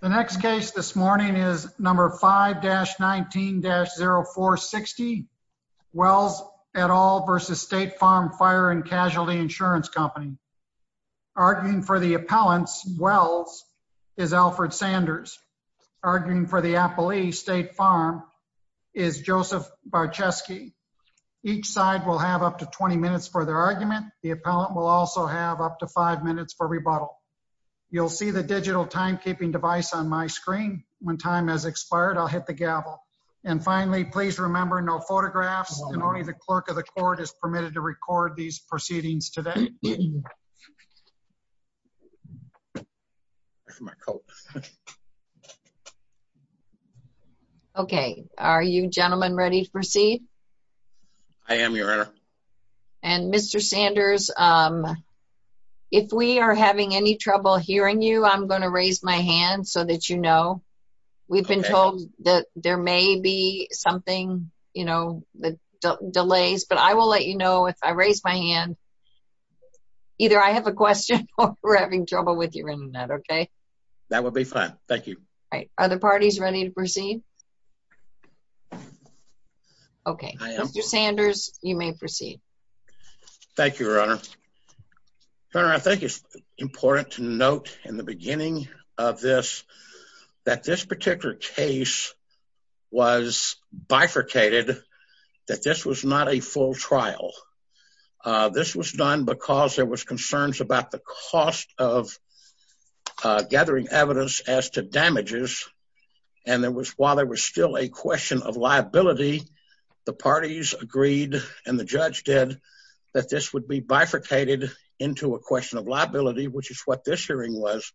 The next case this morning is number 5-19-0460, Wells et al. versus State Farm Fire and Casualty Insurance Company. Arguing for the appellants, Wells, is Alfred Sanders. Arguing for the appellee, State Farm, is Joseph Barcheski. Each side will have up to 20 minutes for their argument. The appellant will also have up to five minutes for rebuttal. You'll see the digital timekeeping device on my screen. When time has expired, I'll hit the gavel. And finally, please remember no photographs, and only the clerk of the court is permitted to record these proceedings today. Okay. Are you gentlemen ready to proceed? I am, Your Honor. And Mr. Sanders, if we are having any trouble hearing you, I'm going to raise my hand so that you know. We've been told that there may be something, you know, delays, but I will let you know if I raise my hand. Either I have a question, or we're having trouble with you in that, okay? That would be fine. Thank you. All right. Are the parties ready to proceed? Okay. Mr. Sanders, you may proceed. Thank you, Your Honor. Your Honor, I think it's important to note in the beginning of this that this particular case was bifurcated, that this was not a full trial. This was done because there was concerns about the cost of gathering evidence as to damages, and while there was still a question of liability, the parties agreed, and the judge did, that this would be bifurcated into a question of liability, which is what this hearing was,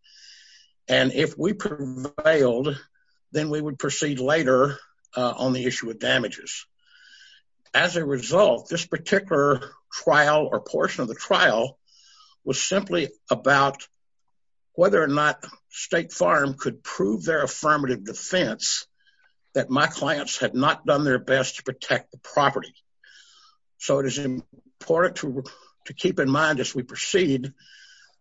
and if we prevailed, then we would proceed later on the issue of damages. As a result, this particular trial or portion of the trial was simply about whether or not State Farm could prove their affirmative defense that my clients had not done their best to protect the property. So it is important to keep in mind as we proceed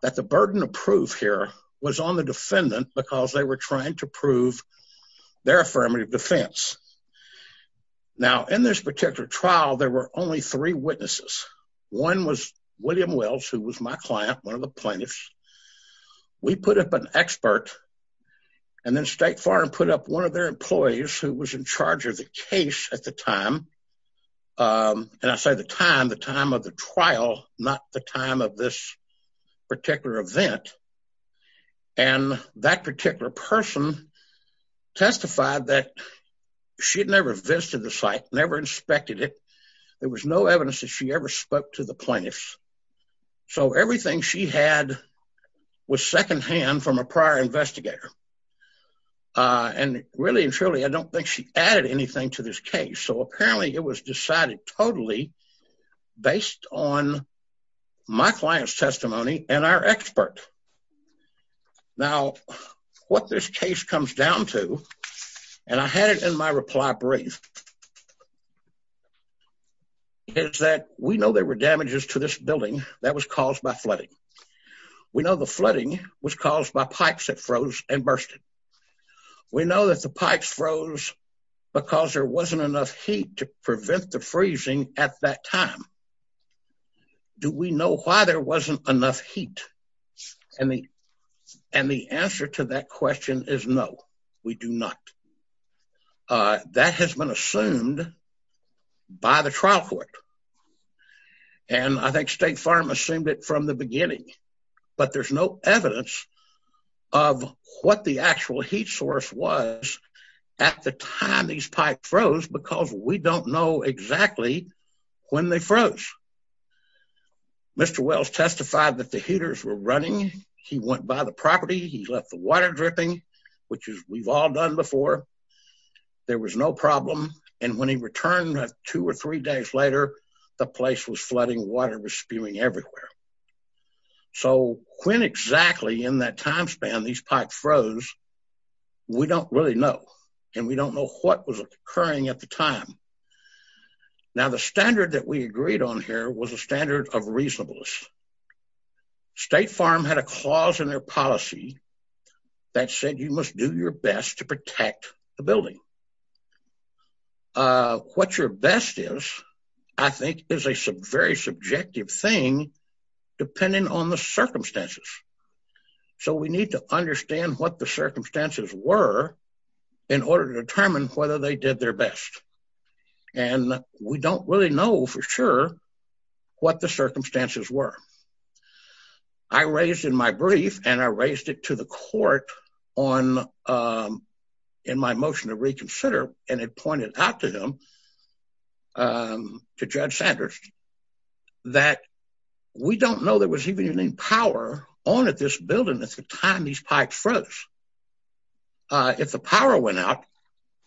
that the burden of proof here was on the defendant because they were trying to prove their affirmative defense. Now, in this particular trial, there were only three witnesses. One was William Wells, who was my client, one of the plaintiffs. We put up an expert, and then State Farm put up one of their employees who was in charge of the case at the time, and I say the time, the time of the trial, not the time of this particular event, and that particular person testified that she had never visited the site, never inspected it. There was no evidence that she ever spoke to the plaintiffs. So everything she had was secondhand from a prior investigator, and really and truly, I don't think she added anything to this case. So apparently, it was decided totally based on my client's testimony and our expert. Now, what this case comes down to, and I had it in my reply brief, is that we know there were damages to this building that was caused by flooding. We know the flooding was caused by pipes that froze and bursted. We know that the pipes froze because there wasn't enough heat to prevent the freezing at that time. Do we know why there wasn't enough heat? And the answer to that question is no, we do not. That has been assumed by the trial court, and I think State Farm assumed it from the beginning, but there's no evidence of what the actual heat source was at the time these pipes froze because we don't know exactly when they froze. Mr. Wells testified that the heaters were running, he went by the property, he left the water dripping, which we've all done before, there was no problem, and when he returned two or three days later, the place was flooding, water was spewing everywhere. So when exactly in that time span these pipes froze, we don't really know, and we don't know what was occurring at the time. Now, the standard that we agreed on here was a standard of reasonableness. State Farm had a clause in their policy that said you must do your best to protect the building. What your best is, I think, is a very subjective thing depending on the circumstances. So we need to understand what the circumstances were in order to determine whether they did their best, and we don't really know for sure what the circumstances were. I raised in my brief, and I raised it to the court in my motion to reconsider, and it pointed out to him, to Judge Sanders, that we don't know there was even any power on at this building at the time these pipes froze. If the power went out,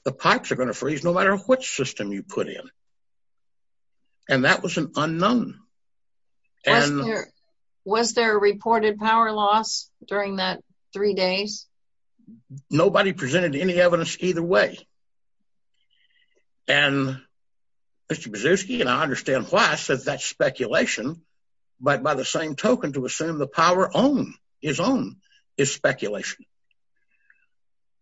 the pipes are going to freeze no matter what system you put in, and that was an unknown. Was there a reported power loss during that three days? Nobody presented any evidence either way, and Mr. Brzezinski, and I understand why, says that's speculation, but by the same token, to assume the power is speculation.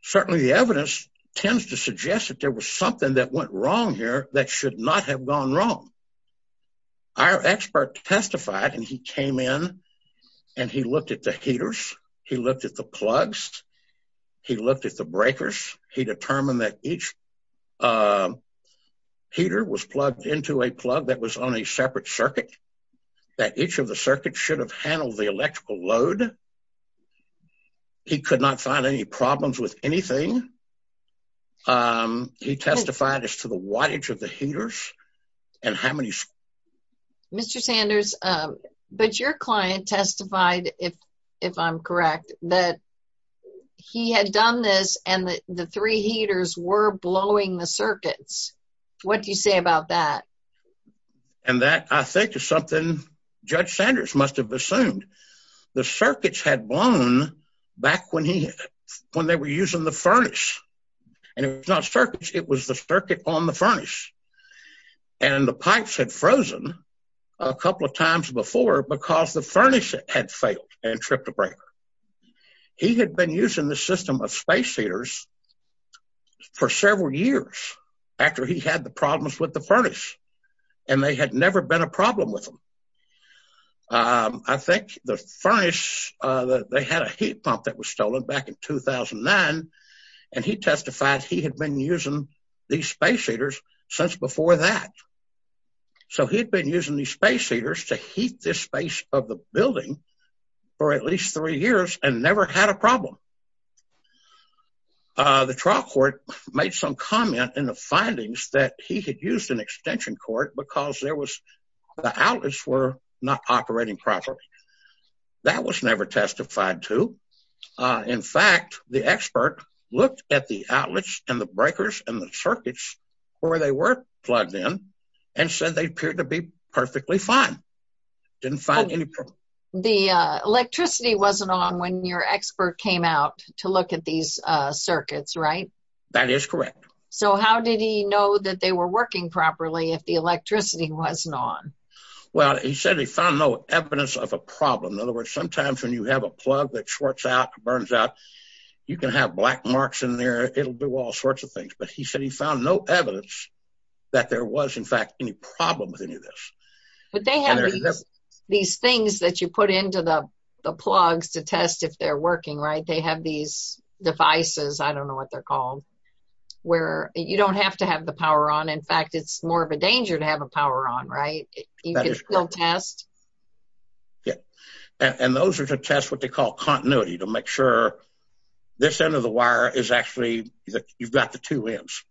Certainly the evidence tends to suggest that there was something that went wrong here that should not have gone wrong. Our expert testified, and he came in, and he looked at the heaters, he looked at the plugs, he looked at the breakers, he determined that each heater was plugged into a plug that was on a separate circuit, that each of the circuits should have handled the electrical load. He could not find any problems with anything. He testified as to the wattage of the heaters and how many... Mr. Sanders, but your client testified, if I'm correct, that he had done this, and the three heaters were blowing the circuits. What do you say about that? And that, I think, is something Judge Sanders must have assumed. The circuits had blown back when they were using the furnace, and it was not circuits, it was the circuit on the furnace. And the pipes had frozen a couple of times before because the furnace had failed and tripped a breaker. He had been using the system of space heaters for several years after he had the problems with the furnace, and there had never been a problem with them. I think the furnace, they had a heat pump that was stolen back in 2009, and he testified he had been using these space heaters since before that. So he had been using these space heaters to heat this space of the building for at least three years and never had a problem. The trial court made some comment in the findings that he had used an extension cord because the outlets were not operating properly. That was never testified to. In fact, the expert looked at the outlets and the breakers and the circuits where they were plugged in and said they appeared to be perfectly fine. Didn't find any problem. The electricity wasn't on when your expert came out to look at these circuits, right? That is correct. So how did he know that they were working properly if the electricity wasn't on? Well, he said he found no evidence of a problem. In other words, sometimes when you have a plug that shorts out, burns out, you can have black marks in there, it'll do all sorts of things. But he said he found no evidence that there was, in fact, any problem with any of this. But they have these things that you put into the plugs to test if they're working, right? They have these devices, I don't know what they're called, where you don't have to have the power on. In fact, it's more of a danger to have a power on, right? You can still test. Yeah. And those are to test what they call continuity, to make sure this end of the wire is actually, you've got the two ends.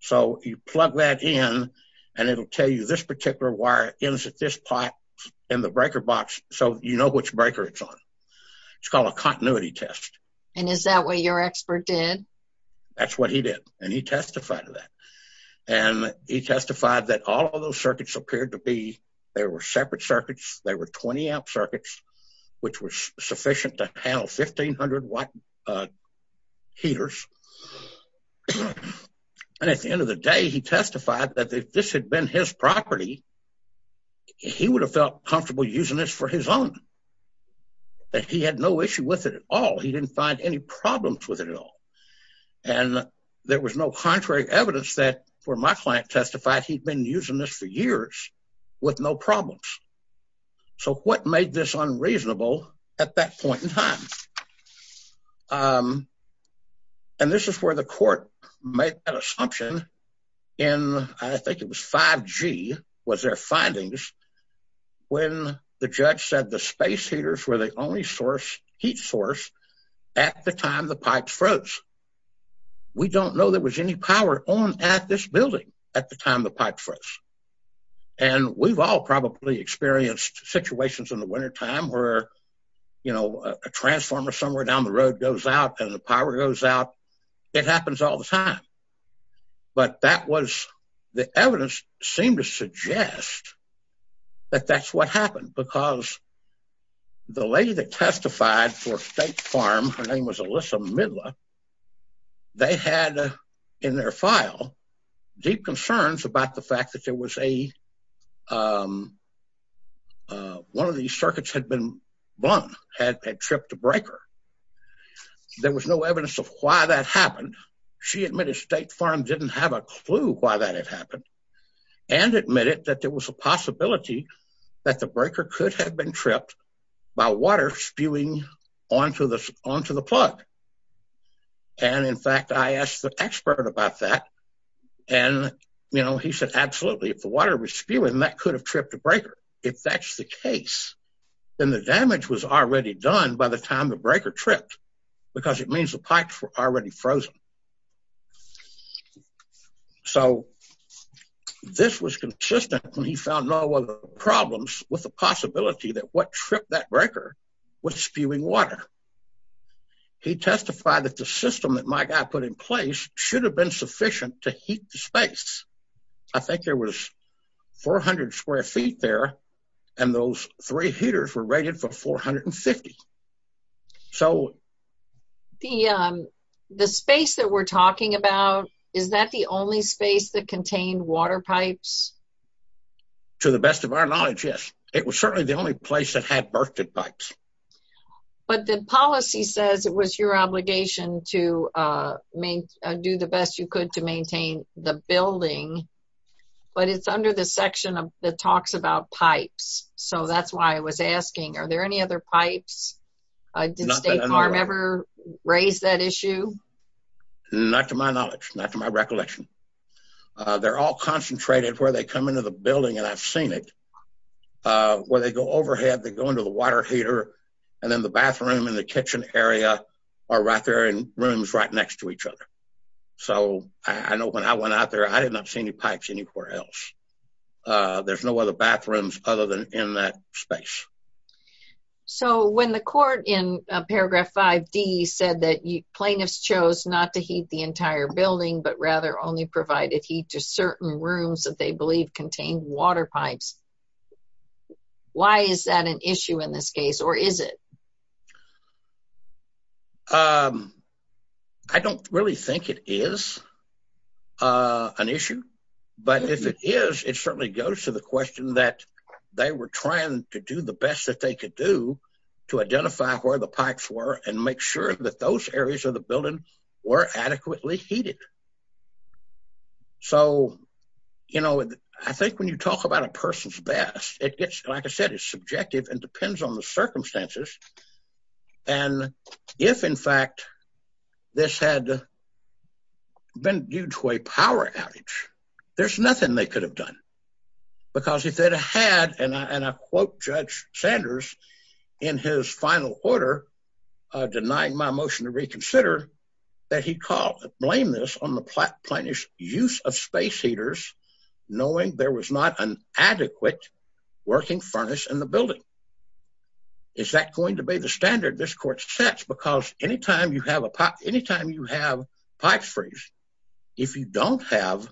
So you plug that in, and it'll tell you this particular wire ends at this part in the breaker box, so you know which breaker it's on. It's called a continuity test. And is that what your expert did? That's what he did. And he testified to that. And he testified that all of those circuits appeared to be, they were separate circuits, they were 20-amp circuits, which was sufficient to handle 1,500 watt heaters. And at the end of the day, he testified that if this had been his property, he would have felt comfortable using this for his own, that he had no issue with it at all. He didn't find any problems with it at all. And there was no contrary evidence that, where my client testified, he'd been using this for years with no problems. So what made this unreasonable at that point in time? And this is where the court made that assumption in, I think it was 5G, was their findings, when the judge said the space heaters were the only heat source at the time the pipes froze. We don't know there was any power on at this building at the time the pipes froze. And we've all probably experienced situations in the wintertime where, you know, a transformer somewhere down the road goes out and the power goes out. It happens all the time. But that was the evidence seemed to suggest that that's what happened. Because the lady that testified for State Farm, her name was Alyssa Midler, they had in their file deep concerns about the fact that there was a, one of these circuits had been blown, had tripped a breaker. There was no evidence of why that happened. She admitted State Farm didn't have a clue why that had happened, and admitted that there was a possibility that the breaker could have been tripped by water spewing onto the plug. And in fact, I asked the expert about that. And, you know, he said, absolutely. If the water was spewing, that could have tripped the breaker. If that's the case, then the damage was already done by the time the breaker tripped, because it means the pipes were already frozen. So this was consistent when he found no other problems with the possibility that what tripped that breaker was spewing water. He testified that the system that my guy put in place should have been sufficient to heat the space. I think there was 400 square feet there, and those three heaters were rated for 450. So the space that we're talking about, is that the only space that contained water pipes? To the best of our knowledge, yes. It was certainly the only place that had birthed it pipes. But the policy says it was your obligation to do the best you could to maintain the building, but it's under the section that talks about pipes. So that's why I was asking, are there any other pipes? Did State Farm ever raise that issue? Not to my knowledge, not to my recollection. They're all concentrated where they come into the building, and I've seen it, where they go overhead, they go into the water heater, and then the bathroom and the kitchen area are right there in rooms right next to each other. So I know when I went out there, I did not see any pipes anywhere else. There's no other bathrooms other than in that space. So when the court in Paragraph 5D said that plaintiffs chose not to heat the entire building, but rather only provided heat to certain rooms that they believed contained water pipes, why is that an issue in this case, or is it? But if it is, it certainly goes to the question that they were trying to do the best that they could do to identify where the pipes were and make sure that those areas of the building were adequately heated. So, you know, I think when you talk about a person's best, it gets, like I said, it's subjective and depends on the circumstances. And if, in fact, this had been due to a power outage, there's nothing they could have done. Because if they'd had, and I quote Judge Sanders in his final order, denying my motion to reconsider, that he called, blame this on the plaintiff's use of space heaters, knowing there was not an adequate working furnace in the building. Is that going to be the standard this court sets? Because anytime you have a pop, anytime you have pipes freeze, if you don't have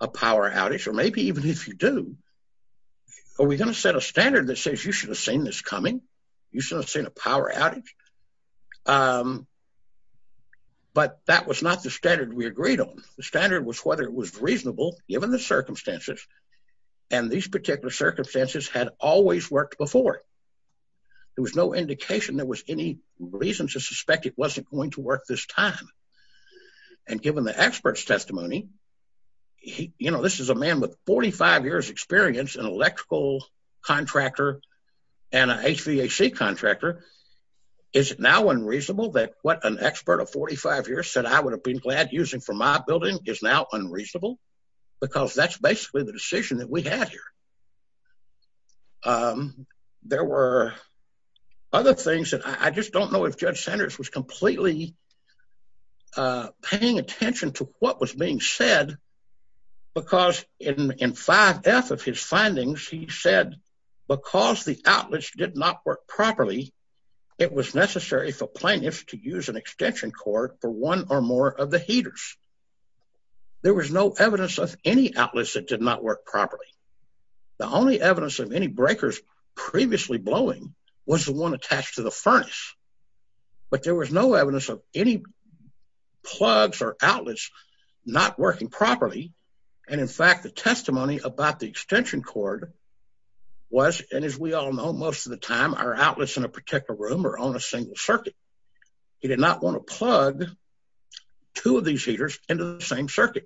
a power outage, or maybe even if you do, are we going to set a standard that says you should have seen this coming? You shouldn't have seen a power outage. But that was not the standard we agreed on. The standard was whether it was reasonable given the circumstances and these There was no indication. There was any reason to suspect it wasn't going to work this time. And given the expert's testimony, you know, this is a man with 45 years experience in electrical contractor and HVAC contractor. Is it now unreasonable that what an expert of 45 years said I would have been glad using for my building is now unreasonable because that's basically the decision that we had here. There were other things that I just don't know if judge Sanders was completely paying attention to what was being said, because in five F of his findings, he said, because the outlets did not work properly, it was necessary for plaintiffs to use an extension cord for one or more of the heaters. There was no evidence of any outlets that did not work properly. The only evidence of any breakers previously blowing was the one attached to the furnace, but there was no evidence of any plugs or outlets not working properly. And in fact, the testimony about the extension cord was, and as we all know, most of the time, our outlets in a particular room or on a single circuit, he did not want to plug two of these heaters into the same circuit.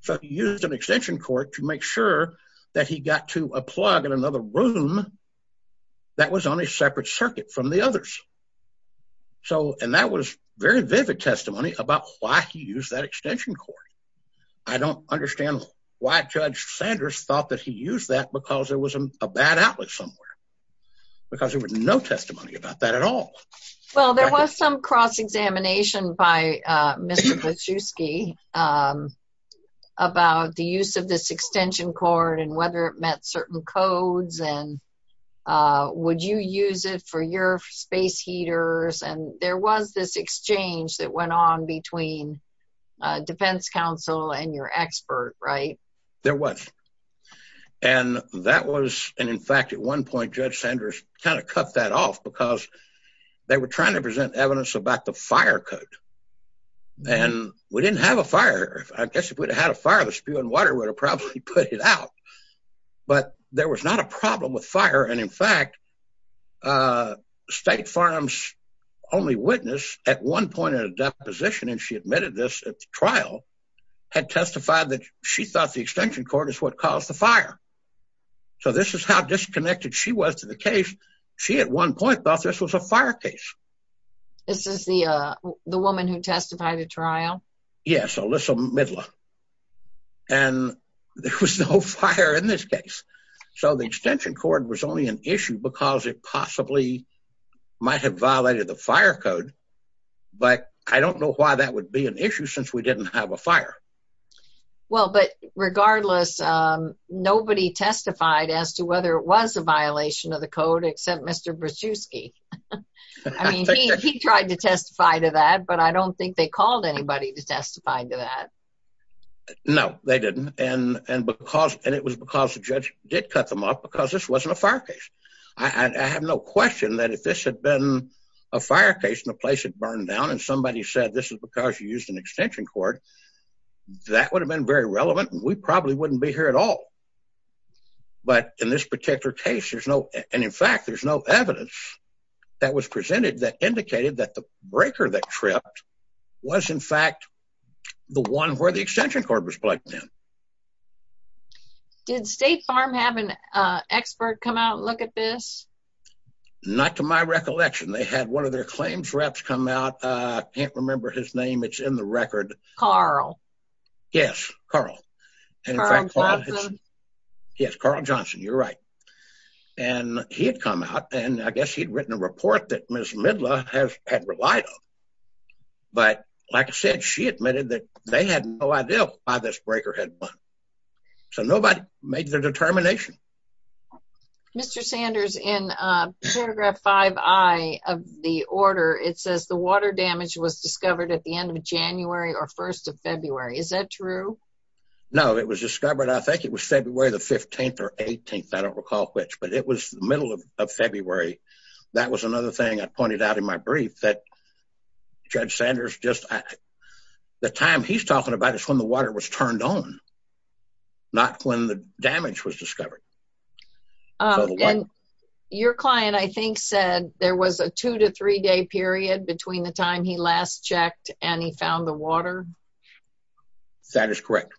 So he used an extension cord to make sure that he got to a plug in another room that was on a separate circuit from the others. So, and that was very vivid testimony about why he used that extension cord. I don't understand why judge Sanders thought that he used that because there was a bad outlet somewhere because there was no testimony about that at all. Well, there was some cross-examination by, uh, Mr. Pliszewski, um, about the use of this extension cord and whether it met certain codes and, uh, would you use it for your space heaters? And there was this exchange that went on between, uh, defense counsel and your expert, right? There was. And that was, and in fact, at one point, judge Sanders kind of cut that off because they were trying to present evidence about the fire code. And we didn't have a fire. I guess if we'd had a fire, the spewing water would have probably put it out, but there was not a problem with fire. And in fact, uh, state farms only witness at one point at a deposition. And she admitted this at the trial had testified that she thought the extension cord is what caused the fire. So this is how disconnected she was to the case. She at one point thought this was a fire case. This is the, uh, the woman who testified at trial. Yes. Alyssa Midler. And there was no fire in this case. So the extension cord was only an issue because it possibly might have violated the fire code. But I don't know why that would be an issue since we didn't have a fire. Well, but regardless, um, nobody testified as to whether it was a violation of the code, except Mr. Pliszewski. I mean, he tried to testify to that, but I don't think they called anybody to testify to that. No, they didn't. And, and because, and it was because the judge did cut them off because this wasn't a fire case. I have no question that if this had been a fire case in a place that burned down and somebody said, this is because you used an extension cord, that would have been very relevant. And we probably wouldn't be here at all. But in this particular case, there's no, and in fact, there's no evidence. That was presented that indicated that the breaker that tripped was in fact the one where the extension cord was plugged in. Did State Farm have an, uh, expert come out and look at this? Not to my recollection. They had one of their claims reps come out. Uh, I can't remember his name. It's in the record. Carl. Yes, Carl. Carl Johnson. Yes, Carl Johnson. You're right. And he had come out and I guess he'd written a report that Ms. Midler has had relied on. But like I said, she admitted that they had no idea why this breaker had been. So nobody made their determination. Mr. Sanders in paragraph five I of the order, it says the water damage was discovered at the end of January or 1st of February. Is that true? No, it was discovered. I think it was February the 15th or 18th. I don't recall which, but it was the middle of February. That was another thing I pointed out in my brief that judge Sanders, just the time he's talking about is when the water was turned on, not when the damage was discovered. Your client, I think said there was a two to three day period between the time he last checked and he found the water. That is correct.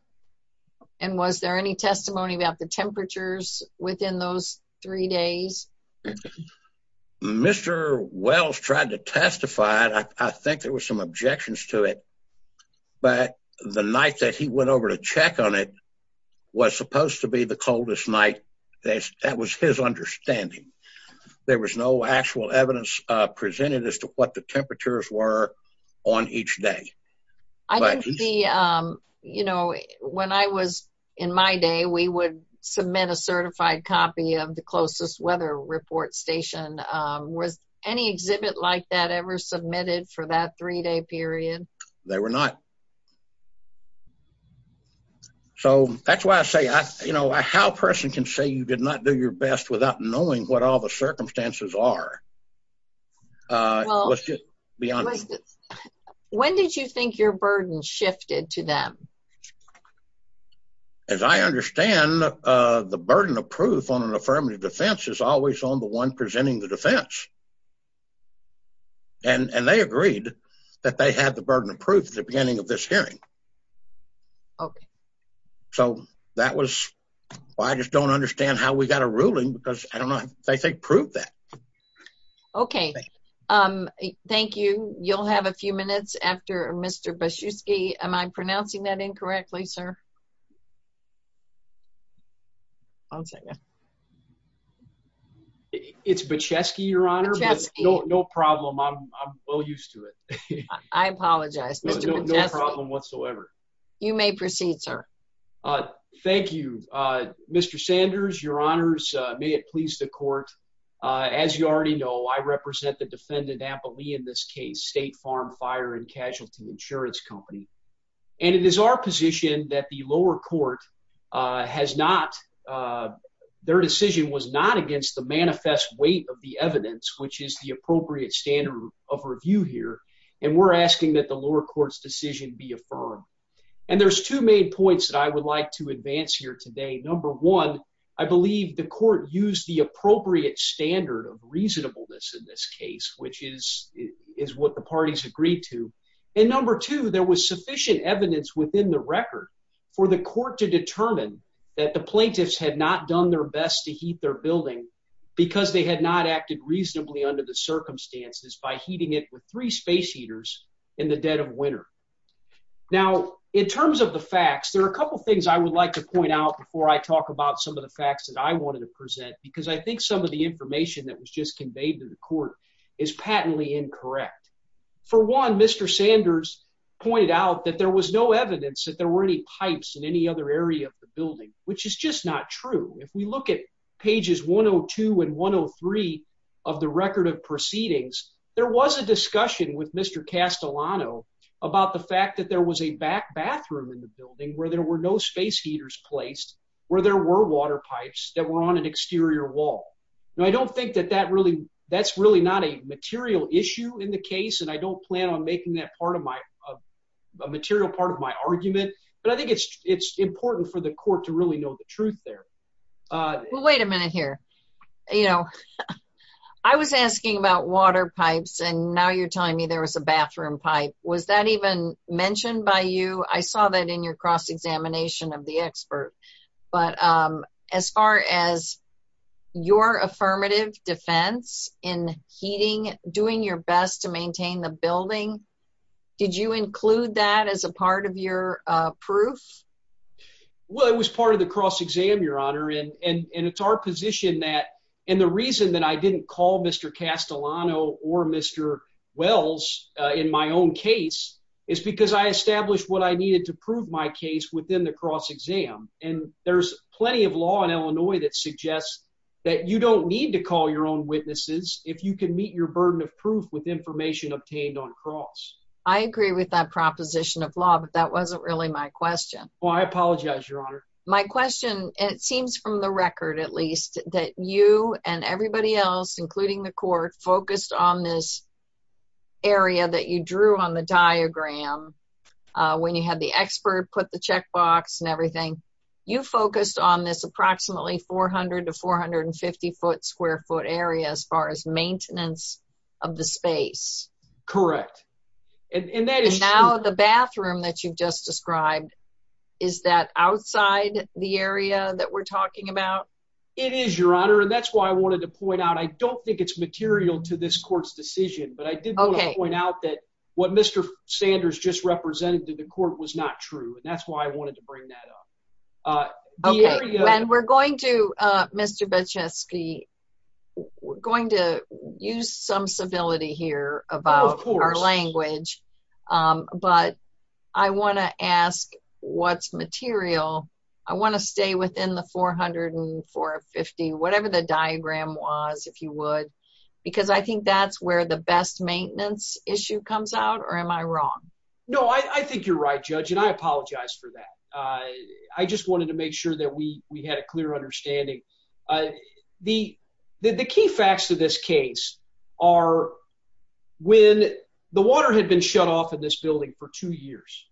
And was there any testimony about the temperatures within those three days? Mr. Wells tried to testify. I think there was some objections to it, but the night that he went over to check on it was supposed to be the coldest night. That was his understanding. There was no actual evidence presented as to what the temperatures were on each day. I don't see, you know, when I was in my day, we would submit a certified copy of the closest weather report station. Was any exhibit like that ever submitted for that three day period? They were not. So that's why I say, you know, how a person can say you did not do your best without knowing what all the circumstances are. Let's just be honest. When did you think your burden shifted to them? As I understand the burden of proof on an affirmative defense is always on the one presenting the defense. And they agreed that they had the burden of proof at the beginning of this hearing. Okay. So that was why I just don't understand how we got a ruling because I don't know if they think proved that. Okay. Thank you. You'll have a few minutes after Mr. Am I pronouncing that incorrectly, sir? I'll take it. It's but Chesky your honor. No problem. I'm well used to it. I apologize. Mr. Problem whatsoever. You may proceed, sir. Thank you, Mr. Sanders, your honors. May it please the court. As you already know, I represent the defendant amply in this case, state farm fire and casualty insurance company. And it is our position that the lower court has not their decision was not against the manifest weight of the evidence, which is the appropriate standard of review here. And we're asking that the lower courts decision be affirmed. And there's two main points that I would like to advance here today. Number one. I believe the court used the appropriate standard of reasonableness in this case, which is, is what the parties agreed to. And number two, there was sufficient evidence within the record for the court to determine that the plaintiffs had not done their best to heat their building because they had not acted reasonably under the circumstances by heating it with three space heaters in the dead of winter. Now, in terms of the facts, there are a couple of things I would like to point out before I talk about some of the facts that I wanted to present, because I think some of the information that was just conveyed to the court is patently incorrect. For one, Mr. Sanders pointed out that there was no evidence that there were any pipes in any other area of the building, which is just not true. If we look at pages 102 and 103 of the record of proceedings, there was a discussion with Mr. Castellano about the fact that there was a back bathroom in the building where there were no space heaters placed, where there were water pipes that were on an exterior wall. Now, I don't think that that really, that's really not a material issue in the case, and I don't plan on making that part of my, a material part of my argument, but I think it's, it's important for the court to really know the truth there. Well, wait a minute here. You know, I was asking about water pipes, and now you're telling me there was a bathroom pipe. Was that even mentioned by you? I saw that in your cross-examination of the expert, but as far as your affirmative defense in heating, doing your best to maintain the building, did you include that as a part of your proof? Well, it was part of the cross-exam, Your Honor, and it's our position that, and the reason that I didn't call Mr. case within the cross-exam, and there's plenty of law in Illinois that suggests that you don't need to call your own witnesses if you can meet your burden of proof with information obtained on cross. I agree with that proposition of law, but that wasn't really my question. Well, I apologize, Your Honor. My question, it seems from the record, at least, that you and everybody else, including the court, focused on this area that you drew on the diagram when you had the expert put the checkbox and everything. You focused on this approximately 400 to 450-foot, square-foot area as far as maintenance of the space. Correct. And now the bathroom that you've just described, is that outside the area that we're talking about? It is, Your Honor, and that's why I wanted to point out, I don't think it's material to this court's decision, but I did want to point out that what Mr. Sanders just represented to the court was not true, and that's why I wanted to bring that up. Okay. And we're going to, Mr. Bochesky, we're going to use some civility here about our language, but I want to ask what's material. I want to stay within the 400 and 450, whatever the diagram was, if you would, because I think that's where the best maintenance issue comes out, or am I wrong? No, I think you're right, Judge, and I apologize for that. I just wanted to make sure that we had a clear understanding. The key facts to this case are when the water had been shut off in this building for two years,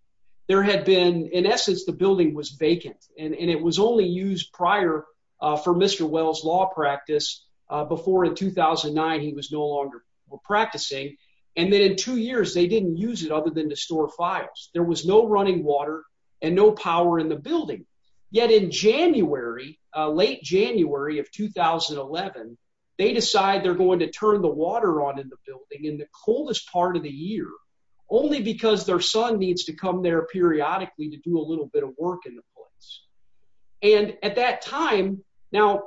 there had been, in essence, the building was vacant, and it was only used prior for Mr. Wells' law practice, before in 2009 he was no longer practicing, and then in two years they didn't use it other than to store files. There was no running water and no power in the building, yet in January, late January of 2011, they decide they're going to turn the water on in the building in the coldest part of the year, only because their son needs to come there At that time, now,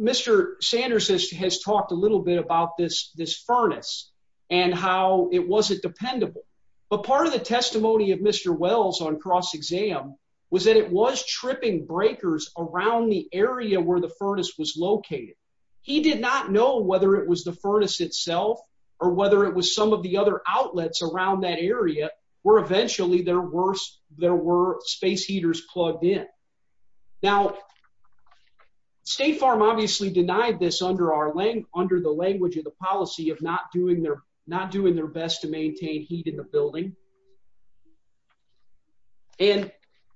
Mr. Sanders has talked a little bit about this furnace and how it wasn't dependable, but part of the testimony of Mr. Wells on cross-exam was that it was tripping breakers around the area where the furnace was located. He did not know whether it was the furnace itself or whether it was some of the other outlets around that area where eventually there were space heaters plugged in. Now, State Farm obviously denied this under the language of the policy of not doing their best to maintain heat in the building. And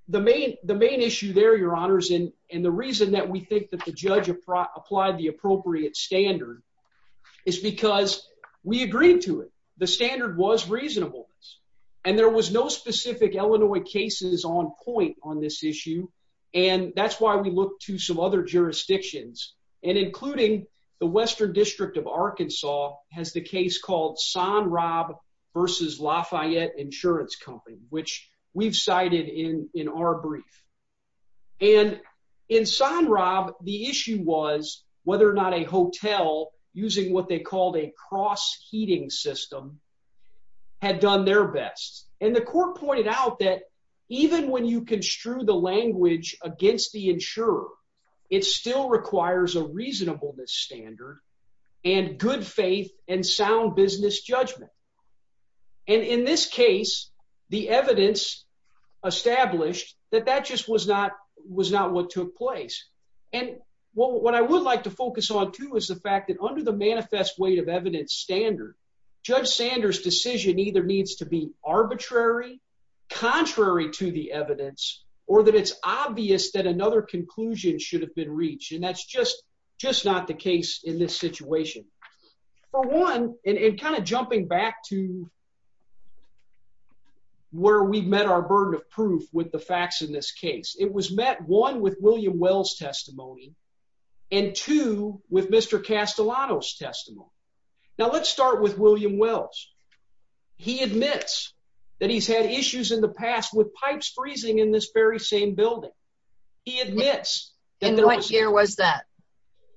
the main issue there, Your Honors, and the reason that we think that the judge applied the appropriate standard is because we agreed to it. The standard was reasonableness, and there was no specific Illinois cases on point on this issue, and that's why we looked to some other jurisdictions, and including the Western District of Arkansas has the case called Son Rob vs. Lafayette Insurance Company, which we've cited in our brief. And in Son Rob, the issue was whether or not a hotel, using what they called a cross-heating system, had done their best. And the court pointed out that even when you construe the language against the insurer, it still requires a reasonableness standard and good faith and sound business judgment. And in this case, the evidence established that that just was not what took place. And what I would like to focus on, too, is the fact that under the manifest weight of evidence standard, Judge Sanders' decision either needs to be arbitrary, contrary to the evidence, or that it's obvious that another conclusion should have been reached, and that's just not the case in this situation. For one, and kind of jumping back to where we've met our burden of proof with the facts in this case, it was met, one, with William Wells' testimony, and two, with Mr. Castellano's testimony. Now let's start with William Wells. He admits that he's had issues in the past with pipes freezing in this very same building. He admits that there was... And what year was that?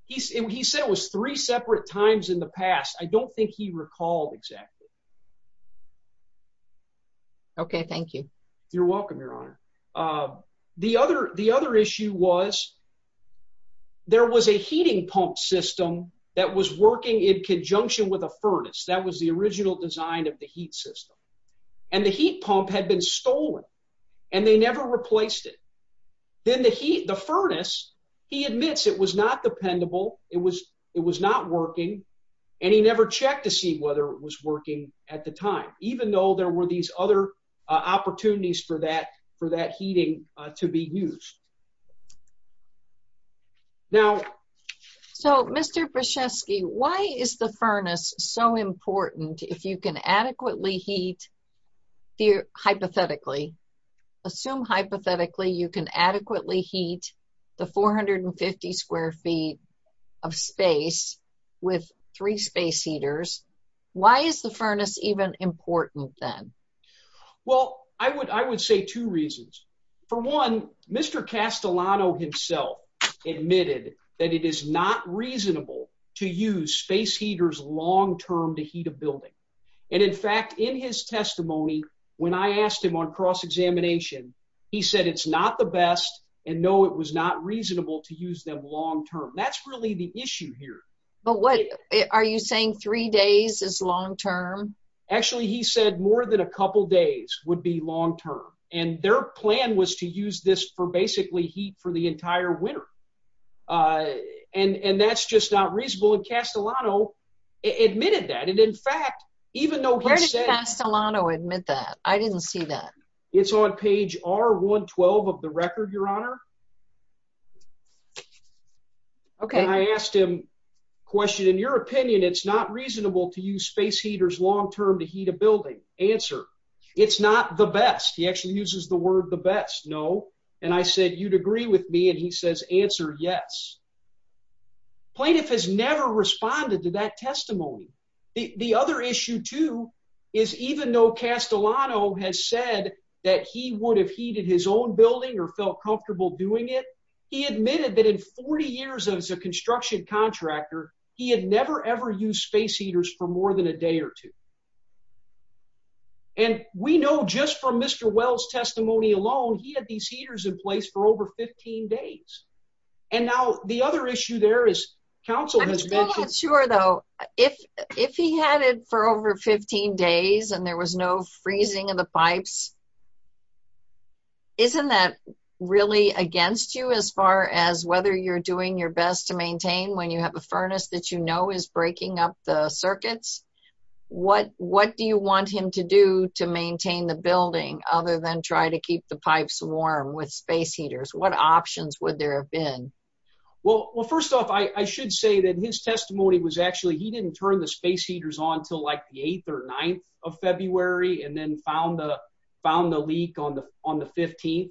He said it was three separate times in the past. I don't think he recalled exactly. Okay, thank you. You're welcome, Your Honor. The other issue was there was a heating pump system that was working in conjunction with a furnace. That was the original design of the heat system. And the heat pump had been stolen, and they never replaced it. Then the furnace, he admits it was not dependable, it was not working, and he never checked to see whether it was working at the time, even though there were these other opportunities for that heating to be used. Now... So, Mr. Brzeski, why is the furnace so important if you can adequately heat, hypothetically, assume hypothetically you can adequately heat the 450 square feet of space with three space heaters? Why is the furnace even important then? Well, I would say two reasons. For one, Mr. Castellano himself admitted that it is not reasonable to use space heaters long-term to heat a building. And in fact, in his testimony, when I asked him on cross-examination, he said it's not the best, and no, it was not reasonable to use them long-term. That's really the issue here. But what – are you saying three days is long-term? Actually, he said more than a couple days would be long-term, and their plan was to use this for basically heat for the entire winter. And that's just not reasonable, and Castellano admitted that. And in fact, even though he said – Where did Castellano admit that? I didn't see that. It's on page R112 of the record, Your Honor. Okay. And I asked him a question, in your opinion, it's not reasonable to use space heaters long-term to heat a building? Answer, it's not the best. He actually uses the word the best, no. And I said, you'd agree with me, and he says, answer, yes. Plaintiff has never responded to that testimony. The other issue, too, is even though Castellano has said that he would have heated his own building or felt comfortable doing it, he admitted that in 40 years as a construction contractor, he had never, ever used space heaters for more than a day or two. And we know just from Mr. Wells' testimony alone, he had these heaters in place for over 15 days. And now the other issue there is counsel has mentioned – I'm still not sure, though, if he had it for over 15 days and there was no freezing of the pipes. Isn't that really against you as far as whether you're doing your best to maintain when you have a furnace that you know is breaking up the circuits? What do you want him to do to maintain the building other than try to keep the pipes warm with space heaters? What options would there have been? Well, first off, I should say that his testimony was actually – and then found the leak on the 15th.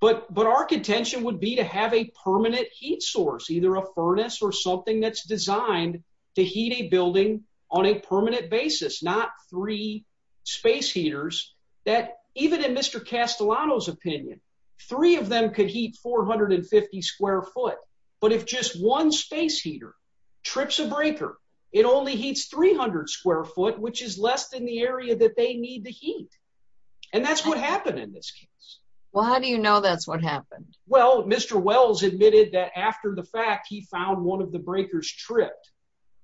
But our contention would be to have a permanent heat source, either a furnace or something that's designed to heat a building on a permanent basis, not three space heaters, that even in Mr. Castellano's opinion, three of them could heat 450 square foot. But if just one space heater trips a breaker, it only heats 300 square foot, which is less than the area that they need to heat. And that's what happened in this case. Well, how do you know that's what happened? Well, Mr. Wells admitted that after the fact, he found one of the breakers tripped.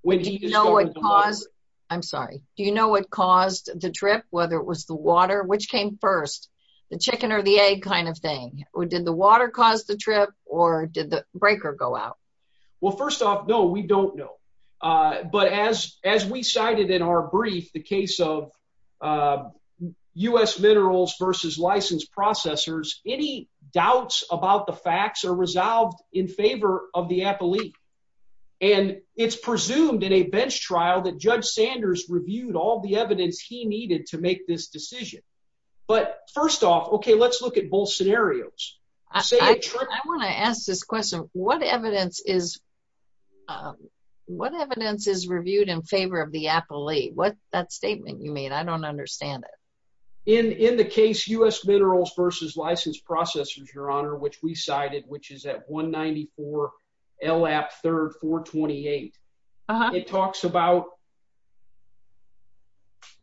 Do you know what caused – I'm sorry. Do you know what caused the trip, whether it was the water? Which came first, the chicken or the egg kind of thing? Did the water cause the trip, or did the breaker go out? Well, first off, no, we don't know. But as we cited in our brief, the case of U.S. minerals versus licensed processors, any doubts about the facts are resolved in favor of the appellee. And it's presumed in a bench trial that Judge Sanders reviewed all the evidence he needed to make this decision. But first off, okay, let's look at both scenarios. I want to ask this question. What evidence is reviewed in favor of the appellee? What's that statement you made? I don't understand it. In the case U.S. minerals versus licensed processors, Your Honor, which we cited, which is at 194 LAPP 3rd 428, it talks about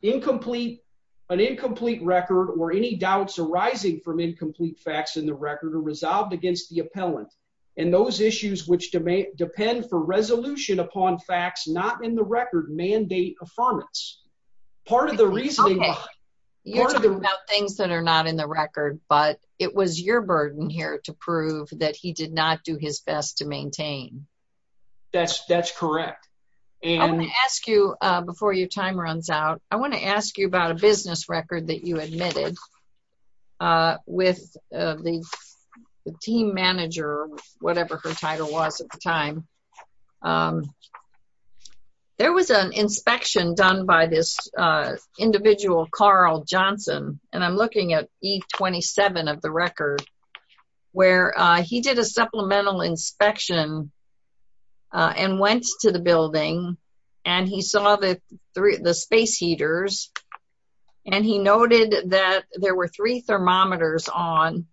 an incomplete record or any doubts arising from incomplete facts in the record are resolved against the appellant. And those issues which depend for resolution upon facts not in the record mandate affirmance. Okay, you're talking about things that are not in the record, but it was your burden here to prove that he did not do his best to maintain. That's correct. I want to ask you, before your time runs out, I want to ask you about a business record that you admitted with the team manager, whatever her title was at the time. There was an inspection done by this individual, Carl Johnson, and I'm looking at E27 of the record, where he did a supplemental inspection and went to the building and he saw the space heaters and he noted that there were three thermometers on,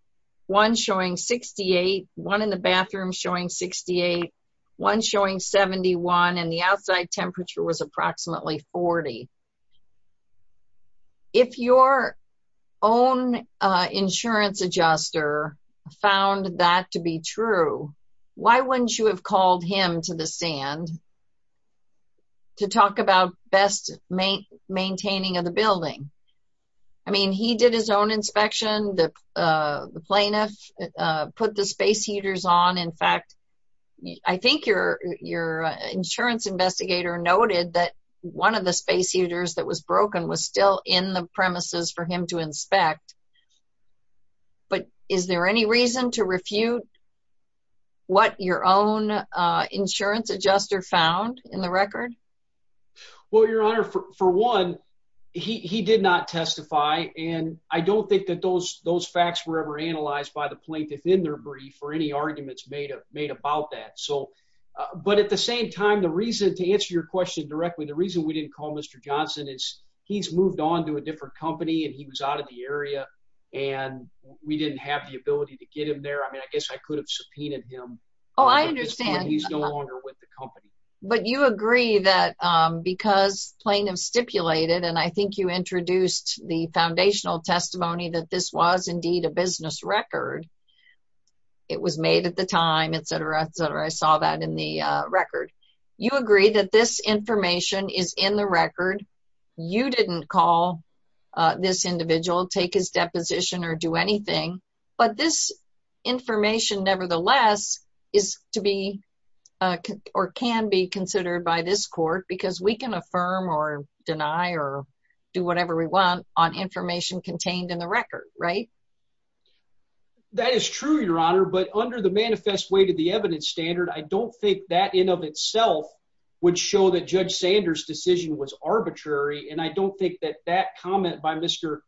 one showing 68, one in the bathroom showing 68, one showing 71, and the outside temperature was approximately 40. If your own insurance adjuster found that to be true, why wouldn't you have called him to the stand to talk about best maintaining of the building? I mean, he did his own inspection. The plaintiff put the space heaters on. In fact, I think your insurance investigator noted that one of the space heaters that was broken but is there any reason to refute what your own insurance adjuster found in the record? Well, Your Honor, for one, he did not testify and I don't think that those facts were ever analyzed by the plaintiff in their brief or any arguments made about that. But at the same time, to answer your question directly, the reason we didn't call Mr. Johnson is he's moved on to a different company and he was out of the area and we didn't have the ability to get him there. I mean, I guess I could have subpoenaed him. Oh, I understand. But he's no longer with the company. But you agree that because plaintiff stipulated, and I think you introduced the foundational testimony that this was indeed a business record, it was made at the time, et cetera, et cetera, I saw that in the record. You agree that this information is in the record. You didn't call this individual, take his deposition, or do anything. But this information, nevertheless, is to be or can be considered by this court because we can affirm or deny or do whatever we want on information contained in the record, right? That is true, Your Honor, but under the manifest way to the evidence standard, I don't think that in of itself would show that Judge Sanders' decision was arbitrary, and I don't think that that comment by Mr.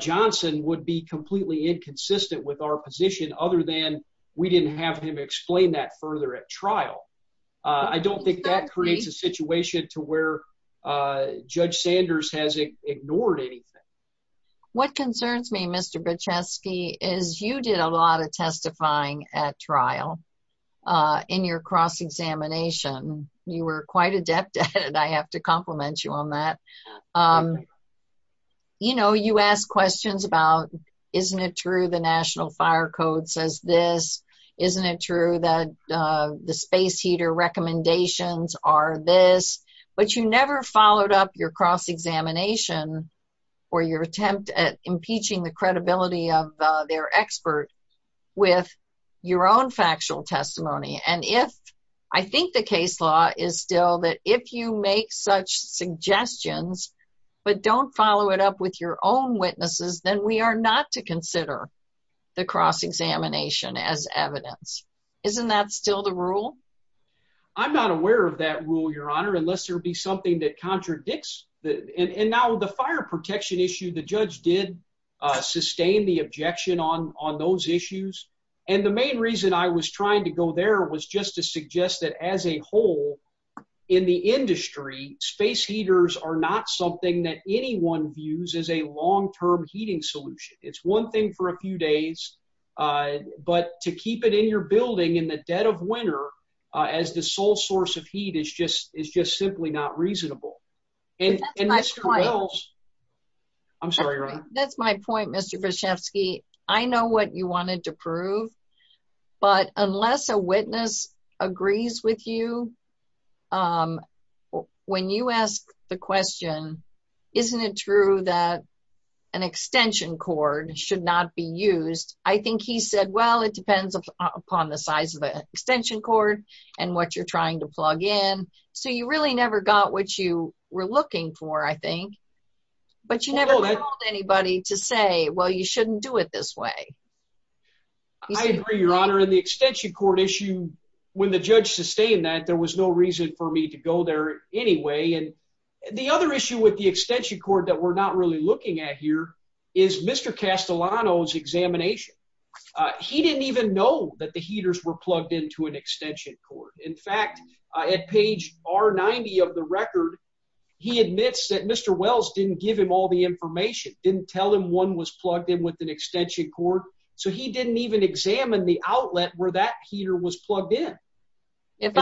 Johnson would be completely inconsistent with our position other than we didn't have him explain that further at trial. I don't think that creates a situation to where Judge Sanders has ignored anything. What concerns me, Mr. Brzezinski, is you did a lot of testifying at trial in your cross-examination. You were quite adept at it. I have to compliment you on that. You know, you asked questions about, isn't it true the National Fire Code says this? Isn't it true that the space heater recommendations are this? But you never followed up your cross-examination or your attempt at impeaching the credibility of their expert with your own factual testimony, and I think the case law is still that if you make such suggestions but don't follow it up with your own witnesses, then we are not to consider the cross-examination as evidence. Isn't that still the rule? I'm not aware of that rule, Your Honor, unless there be something that contradicts. And now the fire protection issue, the judge did sustain the objection on those issues, and the main reason I was trying to go there was just to suggest that as a whole, in the industry, space heaters are not something that anyone views as a long-term heating solution. It's one thing for a few days, but to keep it in your building in the dead of winter as the sole source of heat is just simply not reasonable. That's my point, Mr. Vyshevsky. I know what you wanted to prove, but unless a witness agrees with you, when you ask the question, isn't it true that an extension cord should not be used, I think he said, well, it depends upon the size of the extension cord and what you're trying to plug in. So you really never got what you were looking for, I think, but you never told anybody to say, well, you shouldn't do it this way. I agree, Your Honor, and the extension cord issue, when the judge sustained that, there was no reason for me to go there anyway, and the other issue with the extension cord that we're not really looking at here is Mr. Castellano's examination. He didn't even know that the heaters were plugged into an extension cord. In fact, at page R90 of the record, he admits that Mr. Wells didn't give him all the information, didn't tell him one was plugged in with an extension cord, so he didn't even examine the outlet where that heater was plugged in. If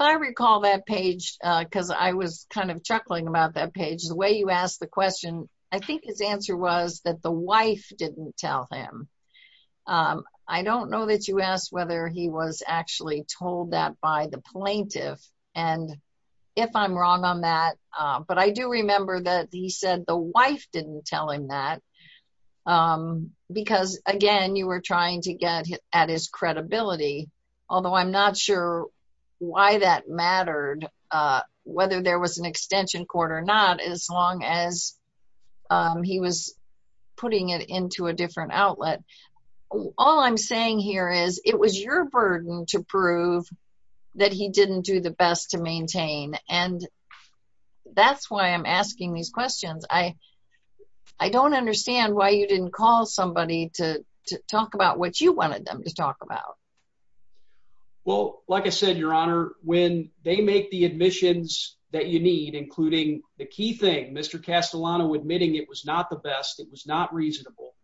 I recall that page, because I was kind of chuckling about that page, the way you asked the question, I think his answer was that the wife didn't tell him. I don't know that you asked whether he was actually told that by the plaintiff, and if I'm wrong on that, but I do remember that he said the wife didn't tell him that, because, again, you were trying to get at his credibility, although I'm not sure why that mattered, whether there was an extension cord or not, as long as he was putting it into a different outlet. All I'm saying here is it was your burden to prove that he didn't do the best to maintain, and that's why I'm asking these questions. I don't understand why you didn't call somebody to talk about what you wanted them to talk about. Well, like I said, Your Honor, when they make the admissions that you need, including the key thing, Mr. Castellano admitting it was not the best, it was not reasonable,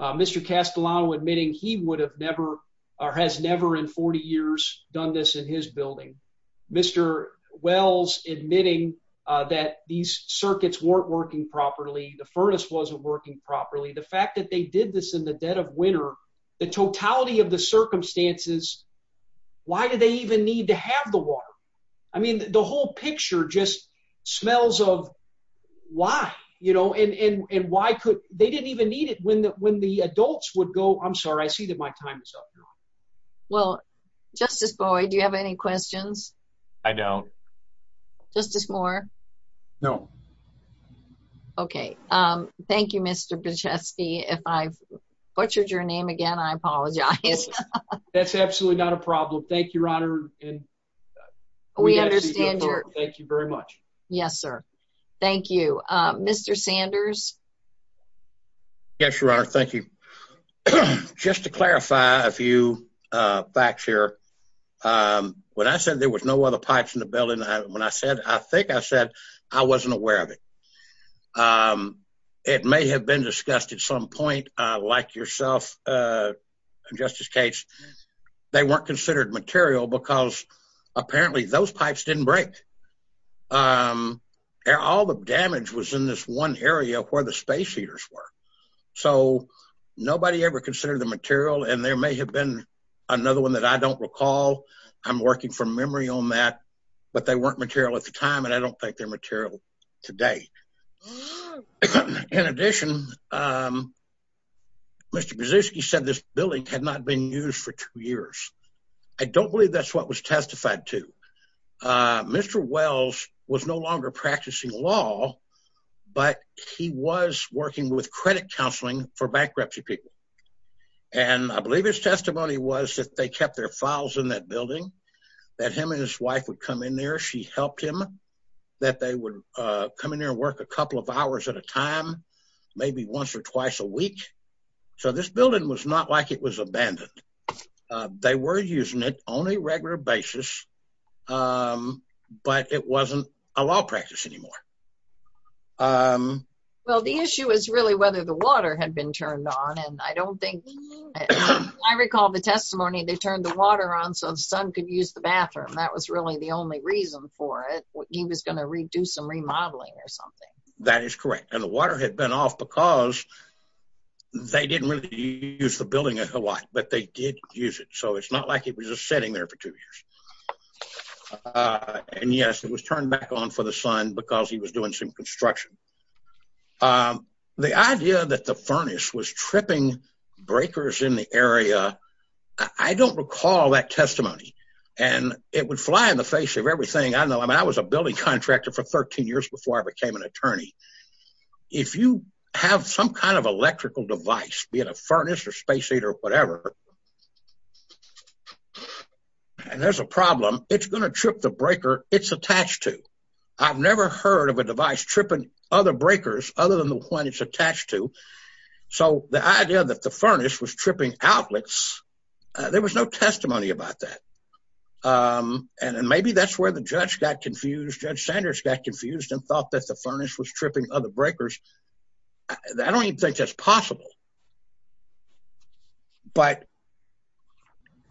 Mr. Castellano admitting he would have never or has never in 40 years done this in his building, Mr. Wells admitting that these circuits weren't working properly, the furnace wasn't working properly, the fact that they did this in the dead of winter, the totality of the circumstances, why did they even need to have the water? I mean, the whole picture just smells of why, you know, and why could – they didn't even need it when the adults would go, I'm sorry, I see that my time is up now. Well, Justice Boyd, do you have any questions? I don't. Justice Moore? No. Okay, thank you, Mr. Bichesky. If I've butchered your name again, I apologize. That's absolutely not a problem. Thank you, Your Honor. We understand your – Thank you very much. Yes, sir. Thank you. Mr. Sanders? Yes, Your Honor, thank you. Just to clarify a few facts here, when I said there was no other pipes in the building, when I said I think I said I wasn't aware of it. It may have been discussed at some point, like yourself, Justice Cates, they weren't considered material because apparently those pipes didn't break. All the damage was in this one area where the space heaters were. So nobody ever considered the material, and there may have been another one that I don't recall. I'm working from memory on that, but they weren't material at the time, and I don't think they're material today. In addition, Mr. Bichesky said this building had not been used for two years. I don't believe that's what was testified to. Mr. Wells was no longer practicing law, but he was working with credit counseling for bankruptcy people, and I believe his testimony was that they kept their files in that building, that him and his wife would come in there. She helped him, that they would come in there and work a couple of hours at a time, maybe once or twice a week. So this building was not like it was abandoned. They were using it on a regular basis, but it wasn't a law practice anymore. Well, the issue is really whether the water had been turned on, and I don't think— I recall the testimony, they turned the water on so the son could use the bathroom. That was really the only reason for it. He was going to do some remodeling or something. That is correct, and the water had been off because they didn't really use the building a lot, but they did use it, so it's not like it was just sitting there for two years. And yes, it was turned back on for the son because he was doing some construction. The idea that the furnace was tripping breakers in the area, I don't recall that testimony, and it would fly in the face of everything. I don't know. I mean, I was a building contractor for 13 years before I became an attorney. If you have some kind of electrical device, be it a furnace or space heater or whatever, and there's a problem, it's going to trip the breaker it's attached to. I've never heard of a device tripping other breakers other than the one it's attached to. So the idea that the furnace was tripping outlets, there was no testimony about that, and maybe that's where the judge got confused. Judge Sanders got confused and thought that the furnace was tripping other breakers. I don't even think that's possible. But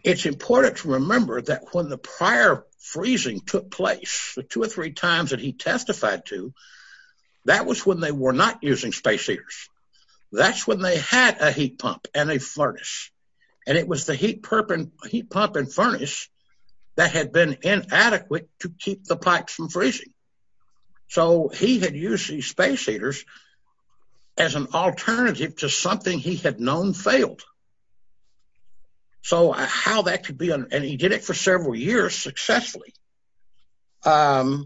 it's important to remember that when the prior freezing took place, the two or three times that he testified to, that was when they were not using space heaters. That's when they had a heat pump and a furnace, and it was the heat pump and furnace that had been inadequate to keep the pipes from freezing. So he had used these space heaters as an alternative to something he had known failed. So how that could be, and he did it for several years successfully. Do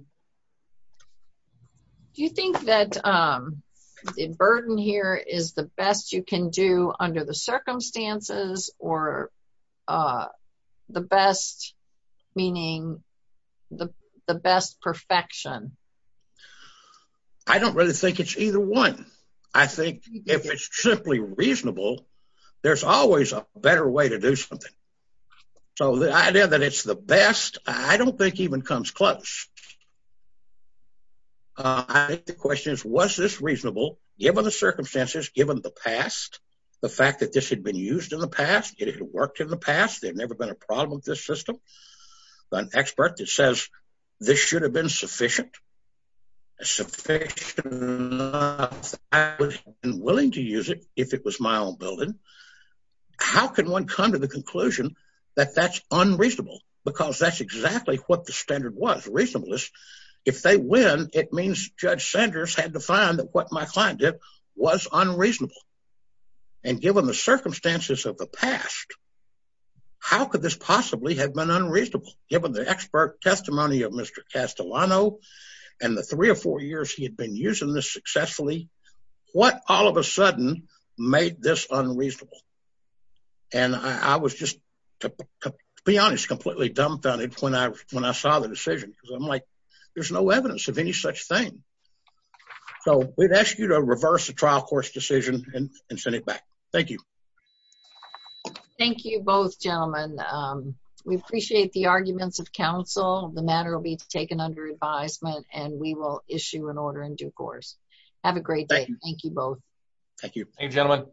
you think that the burden here is the best you can do under the circumstances, or the best meaning the best perfection? I don't really think it's either one. I think if it's simply reasonable, there's always a better way to do something. So the idea that it's the best, I don't think even comes close. I think the question is, was this reasonable given the circumstances, given the past, the fact that this had been used in the past, it had worked in the past, there had never been a problem with this system? An expert that says this should have been sufficient, sufficient enough that I would have been willing to use it if it was my own building. How can one come to the conclusion that that's unreasonable? Because that's exactly what the standard was, reasonableness. If they win, it means Judge Sanders had to find that what my client did was unreasonable. And given the circumstances of the past, how could this possibly have been unreasonable? Given the expert testimony of Mr. Castellano, and the three or four years he had been using this successfully, what all of a sudden made this unreasonable? And I was just, to be honest, completely dumbfounded when I saw the decision, because I'm like, there's no evidence of any such thing. So we'd ask you to reverse the trial court's decision and send it back. Thank you. Thank you both, gentlemen. We appreciate the arguments of counsel. The matter will be taken under advisement, and we will issue an order in due course. Have a great day. Thank you both. Thank you. Thank you, gentlemen.